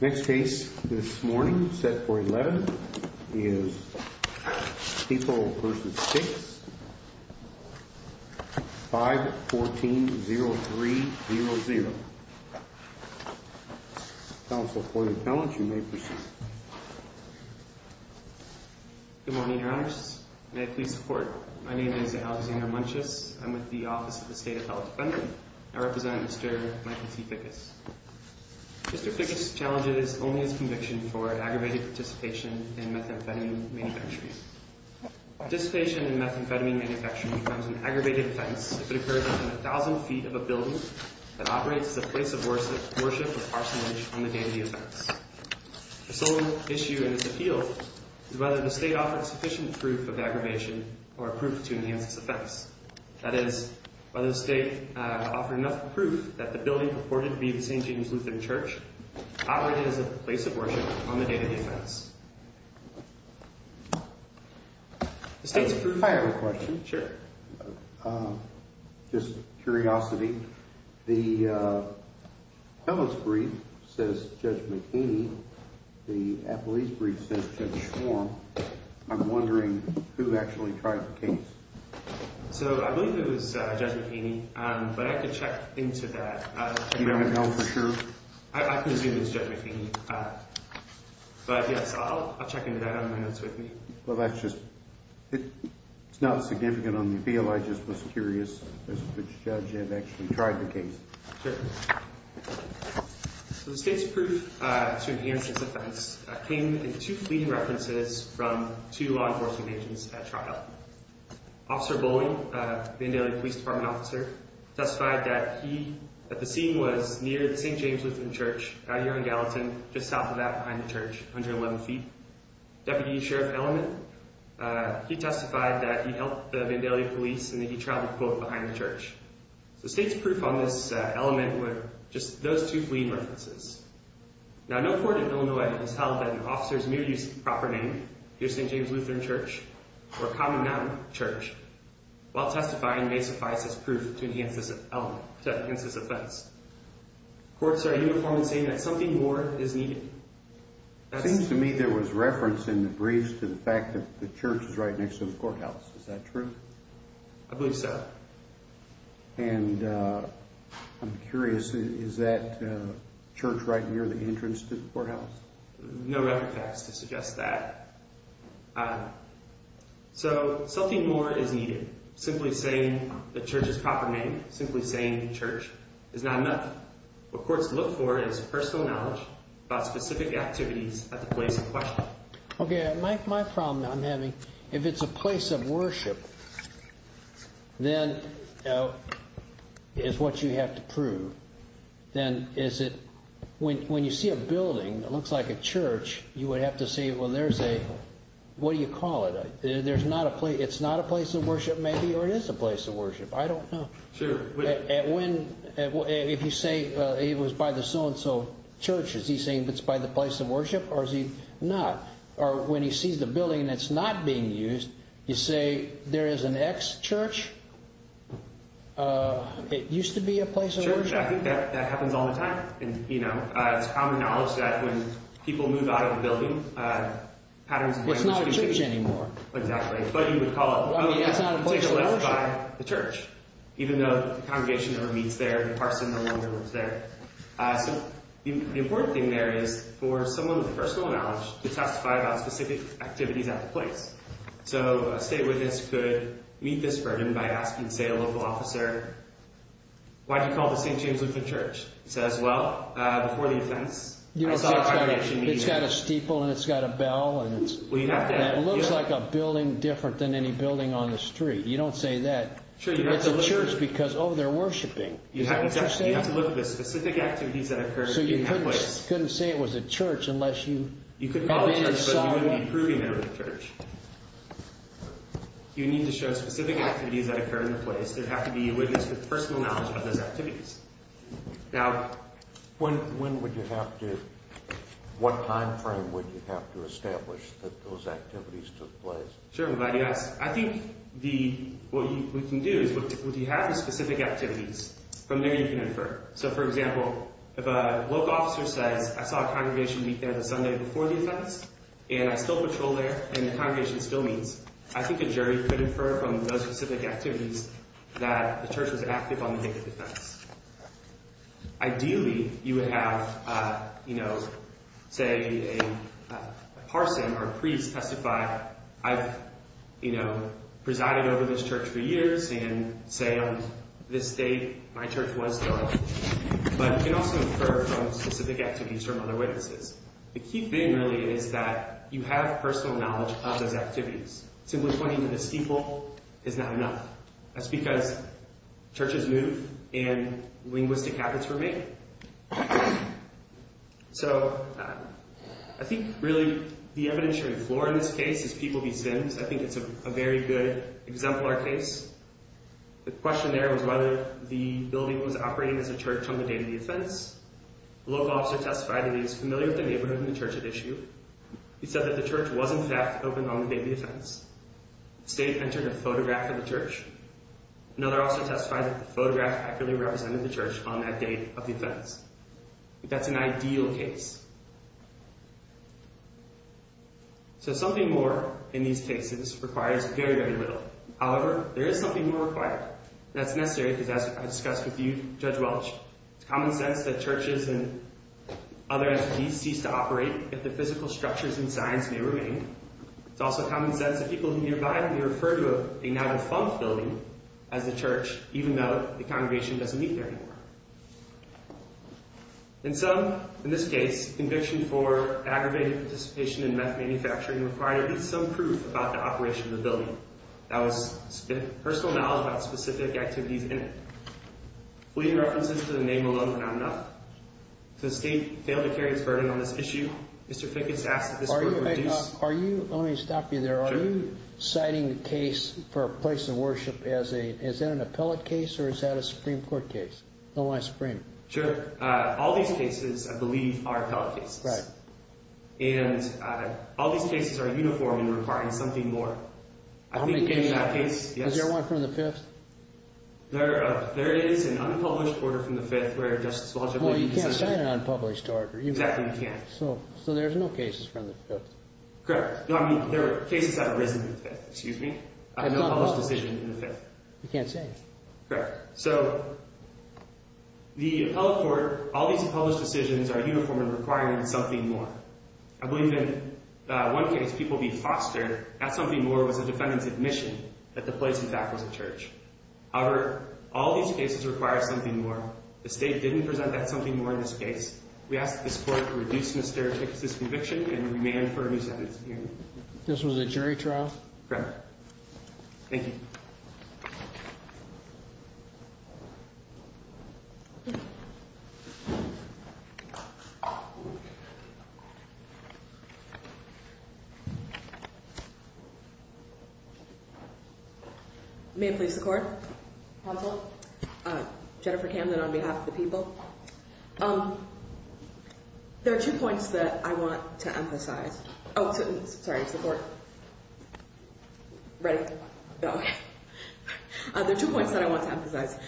Next case this morning, set for 11, is People v. Fickes, 5-14-0-3-0-0. Counsel for the appellant, you may proceed. Good morning, Your Honors, and I plead support. My name is Alexander Munches. I'm with the Office of the State Appellate Defender. I represent Mr. Michael T. Fickes. Mr. Fickes' challenge is only his conviction for aggravated participation in methamphetamine manufacturing. Participation in methamphetamine manufacturing becomes an aggravated offense if it occurs within 1,000 feet of a building that operates as a place of worship or parsonage on the day of the offense. The sole issue in this appeal is whether the state offers sufficient proof of aggravation or proof to enhance this offense. That is, whether the state offers enough proof that the building purported to be the St. James Lutheran Church operated as a place of worship on the day of the offense. If I have a question. Sure. Just curiosity. The fellows' brief says Judge McHaney. The appellee's brief says Judge Schwarm. I'm wondering who actually tried the case. So I believe it was Judge McHaney, but I could check into that. You don't know for sure? I presume it was Judge McHaney. But yes, I'll check into that on my notes with me. Well, that's just, it's not significant on the appeal. I just was curious as to which judge had actually tried the case. Sure. So the state's proof to enhance this offense came in two fleeting references from two law enforcement agents at trial. Officer Bowling, Vandalia Police Department officer, testified that he, that the scene was near the St. James Lutheran Church out here on Gallatin, just south of that, behind the church, 111 feet. Deputy Sheriff Elliman, he testified that he helped the Vandalia police and that he traveled, quote, behind the church. The state's proof on this element were just those two fleeting references. Now, no court in Illinois has held that an officer's mere use of a proper name, near St. James Lutheran Church, or a common noun, church, while testifying may suffice as proof to enhance this element, to enhance this offense. Courts are uniform in saying that something more is needed. It seems to me there was reference in the briefs to the fact that the church is right next to the courthouse. Is that true? I believe so. And I'm curious, is that church right near the entrance to the courthouse? No reference to suggest that. So something more is needed. Simply saying the church's proper name, simply saying the church, is not enough. What courts look for is personal knowledge about specific activities at the place in question. Okay, my problem I'm having, if it's a place of worship, then, is what you have to prove, then is it, when you see a building that looks like a church, you would have to say, well, there's a, what do you call it? There's not a place, it's not a place of worship, maybe, or it is a place of worship. I don't know. Sure. If you say it was by the so-and-so church, is he saying it's by the place of worship, or is he not? Or when he sees the building that's not being used, you say there is an ex-church, it used to be a place of worship? Sure, I think that happens all the time. And, you know, it's common knowledge that when people move out of a building, patterns of language can change. It's not a church anymore. Exactly. Well, I mean, that's not a place of worship. You can take a left by the church, even though the congregation never meets there, the parson no longer lives there. So, the important thing there is for someone with personal knowledge to testify about specific activities at the place. So, a state witness could meet this burden by asking, say, a local officer, why do you call the St. James Lutheran Church? He says, well, before the offense, I saw the congregation meeting. It's got a steeple, and it's got a bell, and it looks like a building different than any building on the street. You don't say that. It's a church because, oh, they're worshiping. You have to look at the specific activities that occur at the place. So, you couldn't say it was a church unless you saw one? You couldn't call it a church, but you wouldn't be proving it was a church. You need to show specific activities that occur at the place. There would have to be a witness with personal knowledge about those activities. Now, when would you have to, what time frame would you have to establish that those activities took place? Sure, I'm glad you asked. I think what we can do is, if you have the specific activities, from there you can infer. So, for example, if a local officer says, I saw a congregation meet there the Sunday before the offense, and I still patrol there, and the congregation still meets, I think a jury could infer from those specific activities that the church was active on the day of the offense. Ideally, you would have, you know, say a parson or a priest testify, I've, you know, presided over this church for years, and say on this date, my church was still active. But you can also infer from specific activities from other witnesses. The key thing, really, is that you have personal knowledge of those activities. Simply pointing to the steeple is not enough. That's because churches move, and linguistic habits remain. So, I think, really, the evidentiary floor in this case is people v. Sims. I think it's a very good exemplar case. The question there was whether the building was operating as a church on the day of the offense. The local officer testified that he was familiar with the neighborhood and the church at issue. He said that the church was, in fact, open on the day of the offense. The state entered a photograph of the church. Another officer testified that the photograph accurately represented the church on that day of the offense. That's an ideal case. So, something more in these cases requires very, very little. However, there is something more required. That's necessary because, as I discussed with you, Judge Welch, it's common sense that churches and other entities cease to operate if the physical structures and signs may remain. It's also common sense that people nearby may refer to a now-defunct building as a church, even though the congregation doesn't meet there anymore. And so, in this case, conviction for aggravated participation in meth manufacturing required at least some proof about the operation of the building. That was personal knowledge about specific activities in it. Pleading references to the name alone were not enough. So, the state failed to carry its burden on this issue. Mr. Fick has asked that this be reduced. Let me stop you there. Sure. Are you citing a case for a place of worship? Is that an appellate case, or is that a Supreme Court case? No, I supreme it. Sure. All these cases, I believe, are appellate cases. Right. And all these cases are uniform in requiring something more. How many cases? I think, in that case, yes. Is there one from the Fifth? There it is, an unpublished order from the Fifth where Justice Welch agreed to sign it. Well, you can't sign an unpublished order. Exactly, you can't. So, there's no cases from the Fifth. Correct. No, I mean, there are cases that have arisen in the Fifth. Excuse me? I have no published decision in the Fifth. You can't say. Correct. So, the appellate court, all these published decisions are uniform in requiring something more. I believe that one case, People v. Foster, that something more was the defendant's admission that the place, in fact, was a church. However, all these cases require something more. The State didn't present that something more in this case. We ask that this Court reduce Mr. Hicks' conviction and remand for a new sentence. This was a jury trial? Correct. Thank you. May it please the Court? Counsel? Jennifer Camden on behalf of the People. There are two points that I want to emphasize. Oh, sorry. It's the Court. Okay. There are two points that I want to emphasize.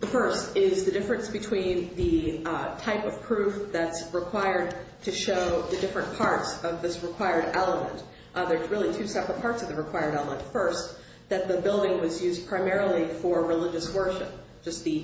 The first is the difference between the type of proof that's required to show the different parts of this required element. There are really two separate parts of the required element. First, that the building was used primarily for religious worship, just the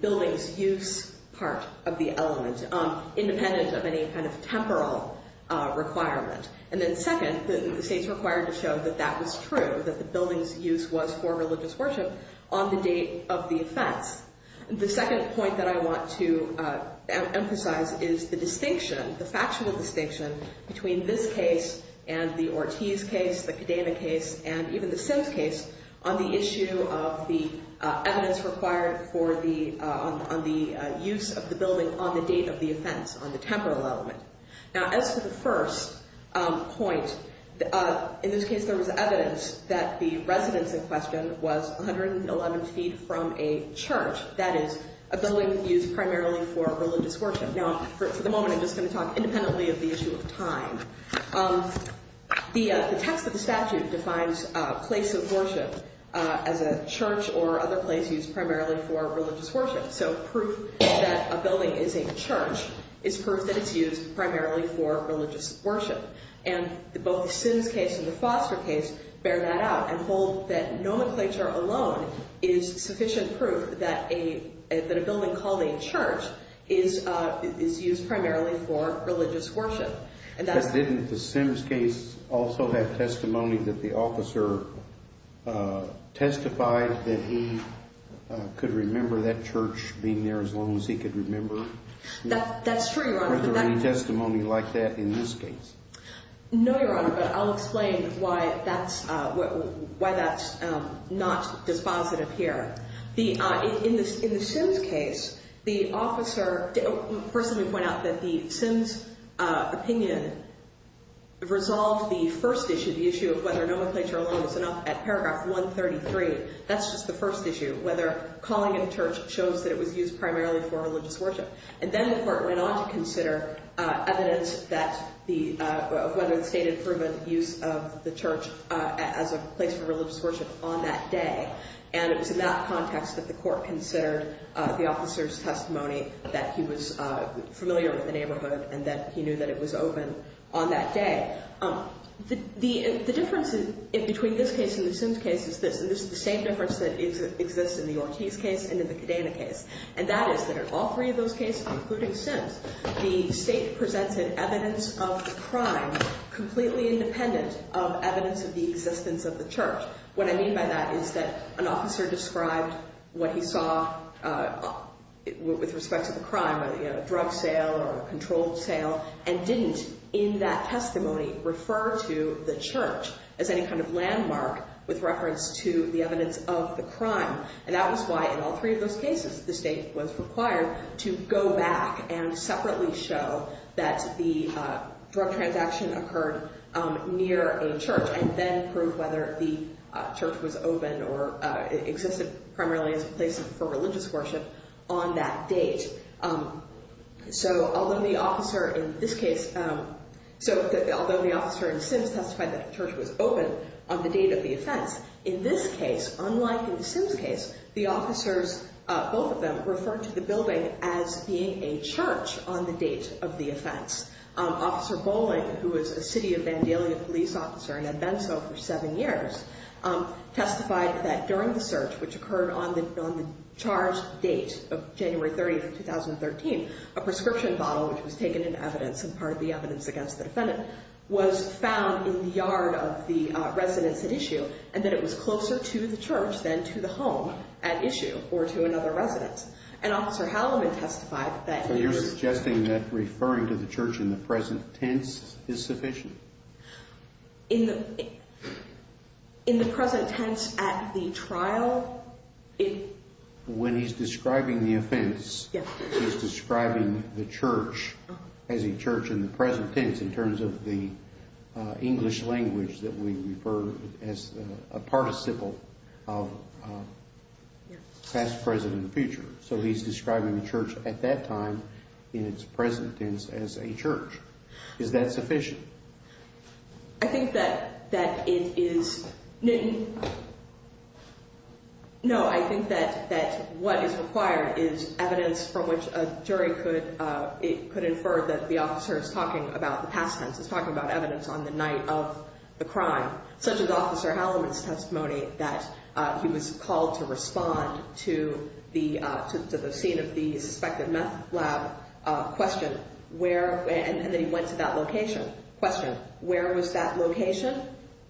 building's use part of the element, independent of any kind of temporal requirement. And then second, the State's required to show that that was true, that the building's use was for religious worship on the date of the offense. The second point that I want to emphasize is the distinction, the factual distinction, between this case and the Ortiz case, the Cadena case, and even the Sims case, on the issue of the evidence required for the, on the use of the building on the date of the offense, on the temporal element. Now, as for the first point, in this case, there was evidence that the residence in question was 111 feet from a church, that is, a building used primarily for religious worship. Now, for the moment, I'm just going to talk independently of the issue of time. The text of the statute defines a place of worship as a church or other place used primarily for religious worship. So, proof that a building is a church is proof that it's used primarily for religious worship. And both the Sims case and the Foster case bear that out and hold that nomenclature alone is sufficient proof that a building called a church is used primarily for religious worship. But didn't the Sims case also have testimony that the officer testified that he could remember that church being there as long as he could remember? That's true, Your Honor. Was there any testimony like that in this case? No, Your Honor, but I'll explain why that's not dispositive here. In the Sims case, the officer personally pointed out that the Sims opinion resolved the first issue, the issue of whether nomenclature alone was enough, at paragraph 133. That's just the first issue, whether calling it a church shows that it was used primarily for religious worship. And then the court went on to consider evidence of whether the state had proven the use of the church as a place for religious worship on that day. And it was in that context that the court considered the officer's testimony that he was familiar with the neighborhood and that he knew that it was open on that day. The difference between this case and the Sims case is this. It's just the same difference that exists in the Ortiz case and in the Cadena case. And that is that in all three of those cases, including Sims, the state presented evidence of the crime completely independent of evidence of the existence of the church. What I mean by that is that an officer described what he saw with respect to the crime, a drug sale or a controlled sale, and didn't in that testimony refer to the church as any kind of landmark with reference to the evidence of the crime. And that was why in all three of those cases, the state was required to go back and separately show that the drug transaction occurred near a church and then prove whether the church was open or existed primarily as a place for religious worship on that date. So although the officer in Sims testified that the church was open on the date of the offense, in this case, unlike in the Sims case, the officers, both of them, referred to the building as being a church on the date of the offense. Officer Bowling, who was a city of Vandalia police officer and had been so for seven years, testified that during the search, which occurred on the charged date of January 30th, 2013, a prescription bottle, which was taken in evidence and part of the evidence against the defendant, was found in the yard of the residence at issue and that it was closer to the church than to the home at issue or to another residence. And Officer Halliman testified that... So you're suggesting that referring to the church in the present tense is sufficient? In the present tense at the trial, it... So he's describing the church at that time in its present tense as a church. Is that sufficient? I think that it is... No, I think that what is required is evidence from which a jury could infer that the officer is talking about... He was called to respond to the scene of the suspected meth lab question, and then he went to that location. Question, where was that location?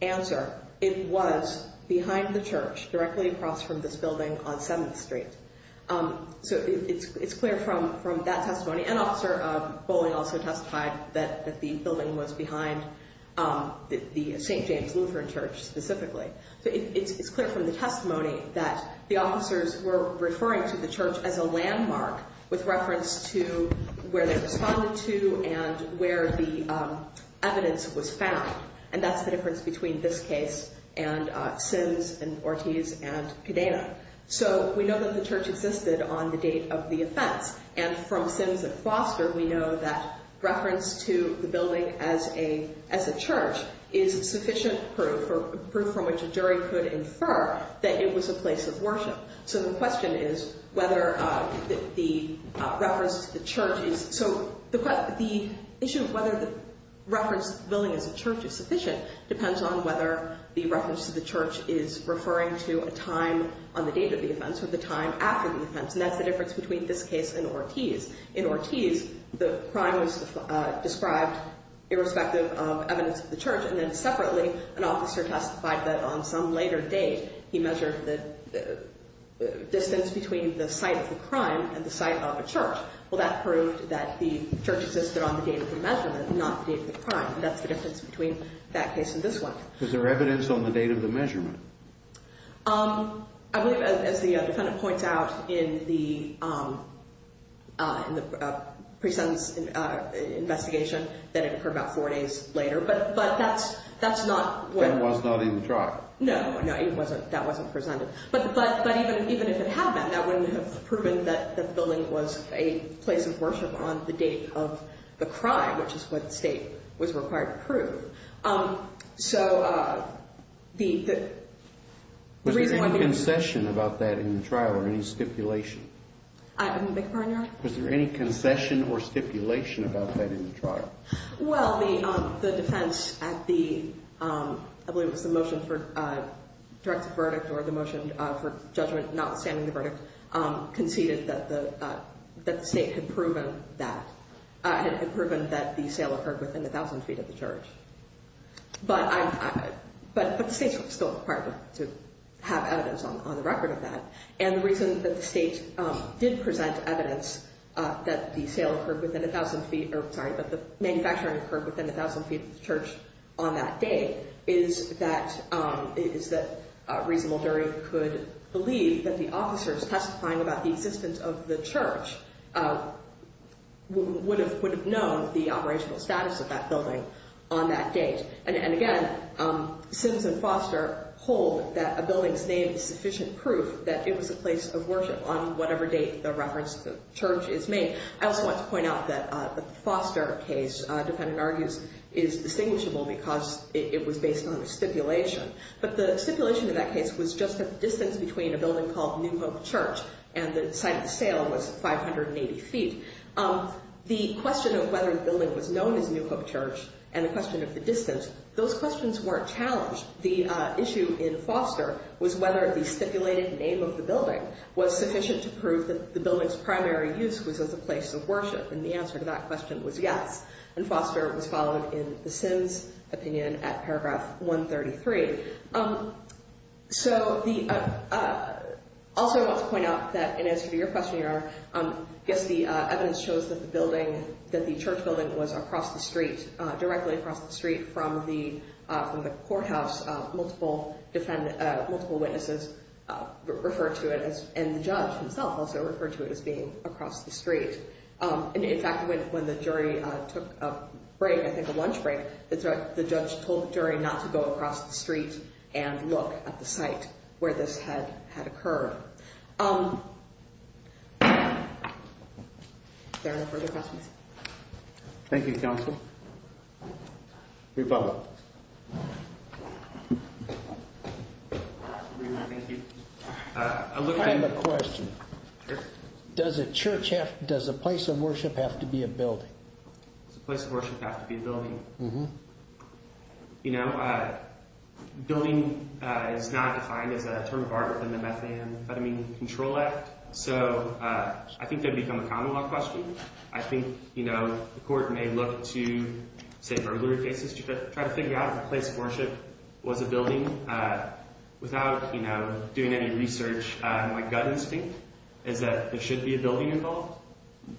Answer, it was behind the church, directly across from this building on 7th Street. So it's clear from that testimony. And Officer Bowling also testified that the building was behind the St. James Lutheran Church specifically. So it's clear from the testimony that the officers were referring to the church as a landmark with reference to where they responded to and where the evidence was found. And that's the difference between this case and Sims and Ortiz and Cadena. So we know that the church existed on the date of the offense. And from Sims and Foster, we know that reference to the building as a church is sufficient proof from which a jury could infer that it was a place of worship. So the question is whether the reference to the church is... So the issue of whether the reference to the building as a church is sufficient depends on whether the reference to the church is referring to a time on the date of the offense or the time after the offense. And that's the difference between this case and Ortiz. In Ortiz, the crime was described irrespective of evidence of the church. And then separately, an officer testified that on some later date, he measured the distance between the site of the crime and the site of a church. Well, that proved that the church existed on the date of the measurement, not the date of the crime. And that's the difference between that case and this one. Is there evidence on the date of the measurement? I believe, as the defendant points out in the pre-sentence investigation, that it occurred about four days later. But that's not what... That was not in the trial? No, no, that wasn't presented. But even if it had been, that wouldn't have proven that the building was a place of worship on the date of the crime, which is what the state was required to prove. So the reason why... Was there any concession about that in the trial or any stipulation? I didn't make a pardon, Your Honor? Was there any concession or stipulation about that in the trial? Well, the defense at the... I believe it was the motion for direct verdict or the motion for judgment notwithstanding the verdict, conceded that the state had proven that the sale occurred within 1,000 feet of the church. But the state's still required to have evidence on the record of that. And the reason that the state did present evidence that the sale occurred within 1,000 feet... Sorry, that the manufacturing occurred within 1,000 feet of the church on that date is that reasonable jury could believe that the officers testifying about the existence of the church would have known the operational status of that building on that date. And again, Sims and Foster hold that a building's name is sufficient proof that it was a place of worship on whatever date the reference to the church is made. I also want to point out that the Foster case, defendant argues, is distinguishable because it was based on a stipulation. But the stipulation in that case was just a distance between a building called New Hope Church and the site of the sale was 580 feet. The question of whether the building was known as New Hope Church and the question of the distance, those questions weren't challenged. The issue in Foster was whether the stipulated name of the building was sufficient to prove that the building's primary use was as a place of worship. And the answer to that question was yes. And Foster was followed in the Sims' opinion at paragraph 133. So also I want to point out that in answer to your question, Your Honor, I guess the evidence shows that the church building was across the street, directly across the street from the courthouse. Multiple witnesses referred to it, and the judge himself also referred to it as being across the street. In fact, when the jury took a break, I think a lunch break, the judge told the jury not to go across the street and look at the site where this had occurred. Is there any further questions? Thank you, counsel. Rebuttal. Thank you. I have a question. Sure. Does a place of worship have to be a building? Does a place of worship have to be a building? Mm-hmm. You know, building is not defined as a term of art within the Methane and Methamine Control Act. So I think that would become a common law question. I think, you know, the court may look to, say, burglary cases to try to figure out if a place of worship was a building without, you know, doing any research. My gut instinct is that there should be a building involved.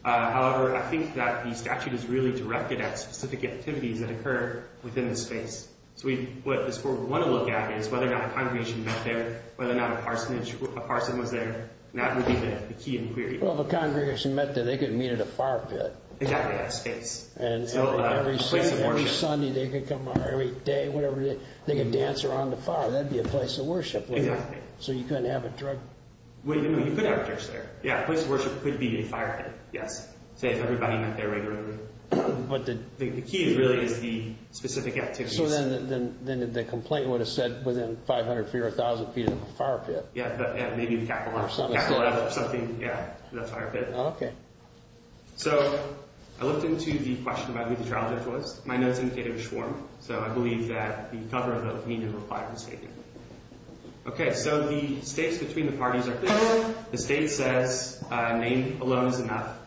However, I think that the statute is really directed at specific activities that occur within the space. So what this court would want to look at is whether or not a congregation met there, whether or not a parson was there, and that would be the key inquiry. Well, if a congregation met there, they could meet at a fire pit. Exactly, that space. So a place of worship. And every Sunday they could come, or every day, whatever, they could dance around the fire. That would be a place of worship, wouldn't it? Exactly. So you couldn't have a drug- No, you could have a church there. Yeah, a place of worship could be a fire pit, yes, say if everybody met there regularly. But the key really is the specific activities. So then the complaint would have said within 500 feet or 1,000 feet of a fire pit. Yeah, but maybe the capital letter or something, yeah, the fire pit. Oh, okay. So I looked into the question about who the trial judge was. My notes indicated it was Schwarm. So I believe that the cover of the opinion required was taken. Okay, so the stakes between the parties are clear. The state says name alone is enough.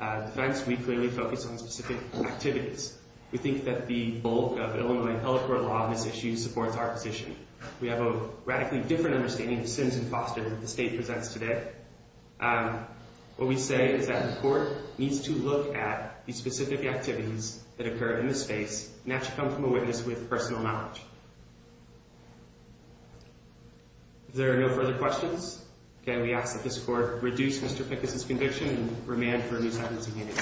In defense, we clearly focus on specific activities. We think that the bulk of Illinois telecourt law on this issue supports our position. We have a radically different understanding of the sins and foster that the state presents today. What we say is that the court needs to look at the specific activities that occur in this space, and that should come from a witness with personal knowledge. If there are no further questions, again, we ask that this court reduce Mr. Pickus' conviction and remand for a new sentencing hearing.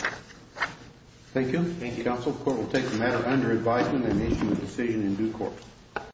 Thank you. Thank you, counsel. The court will take the matter under advisement and issue a decision in due course.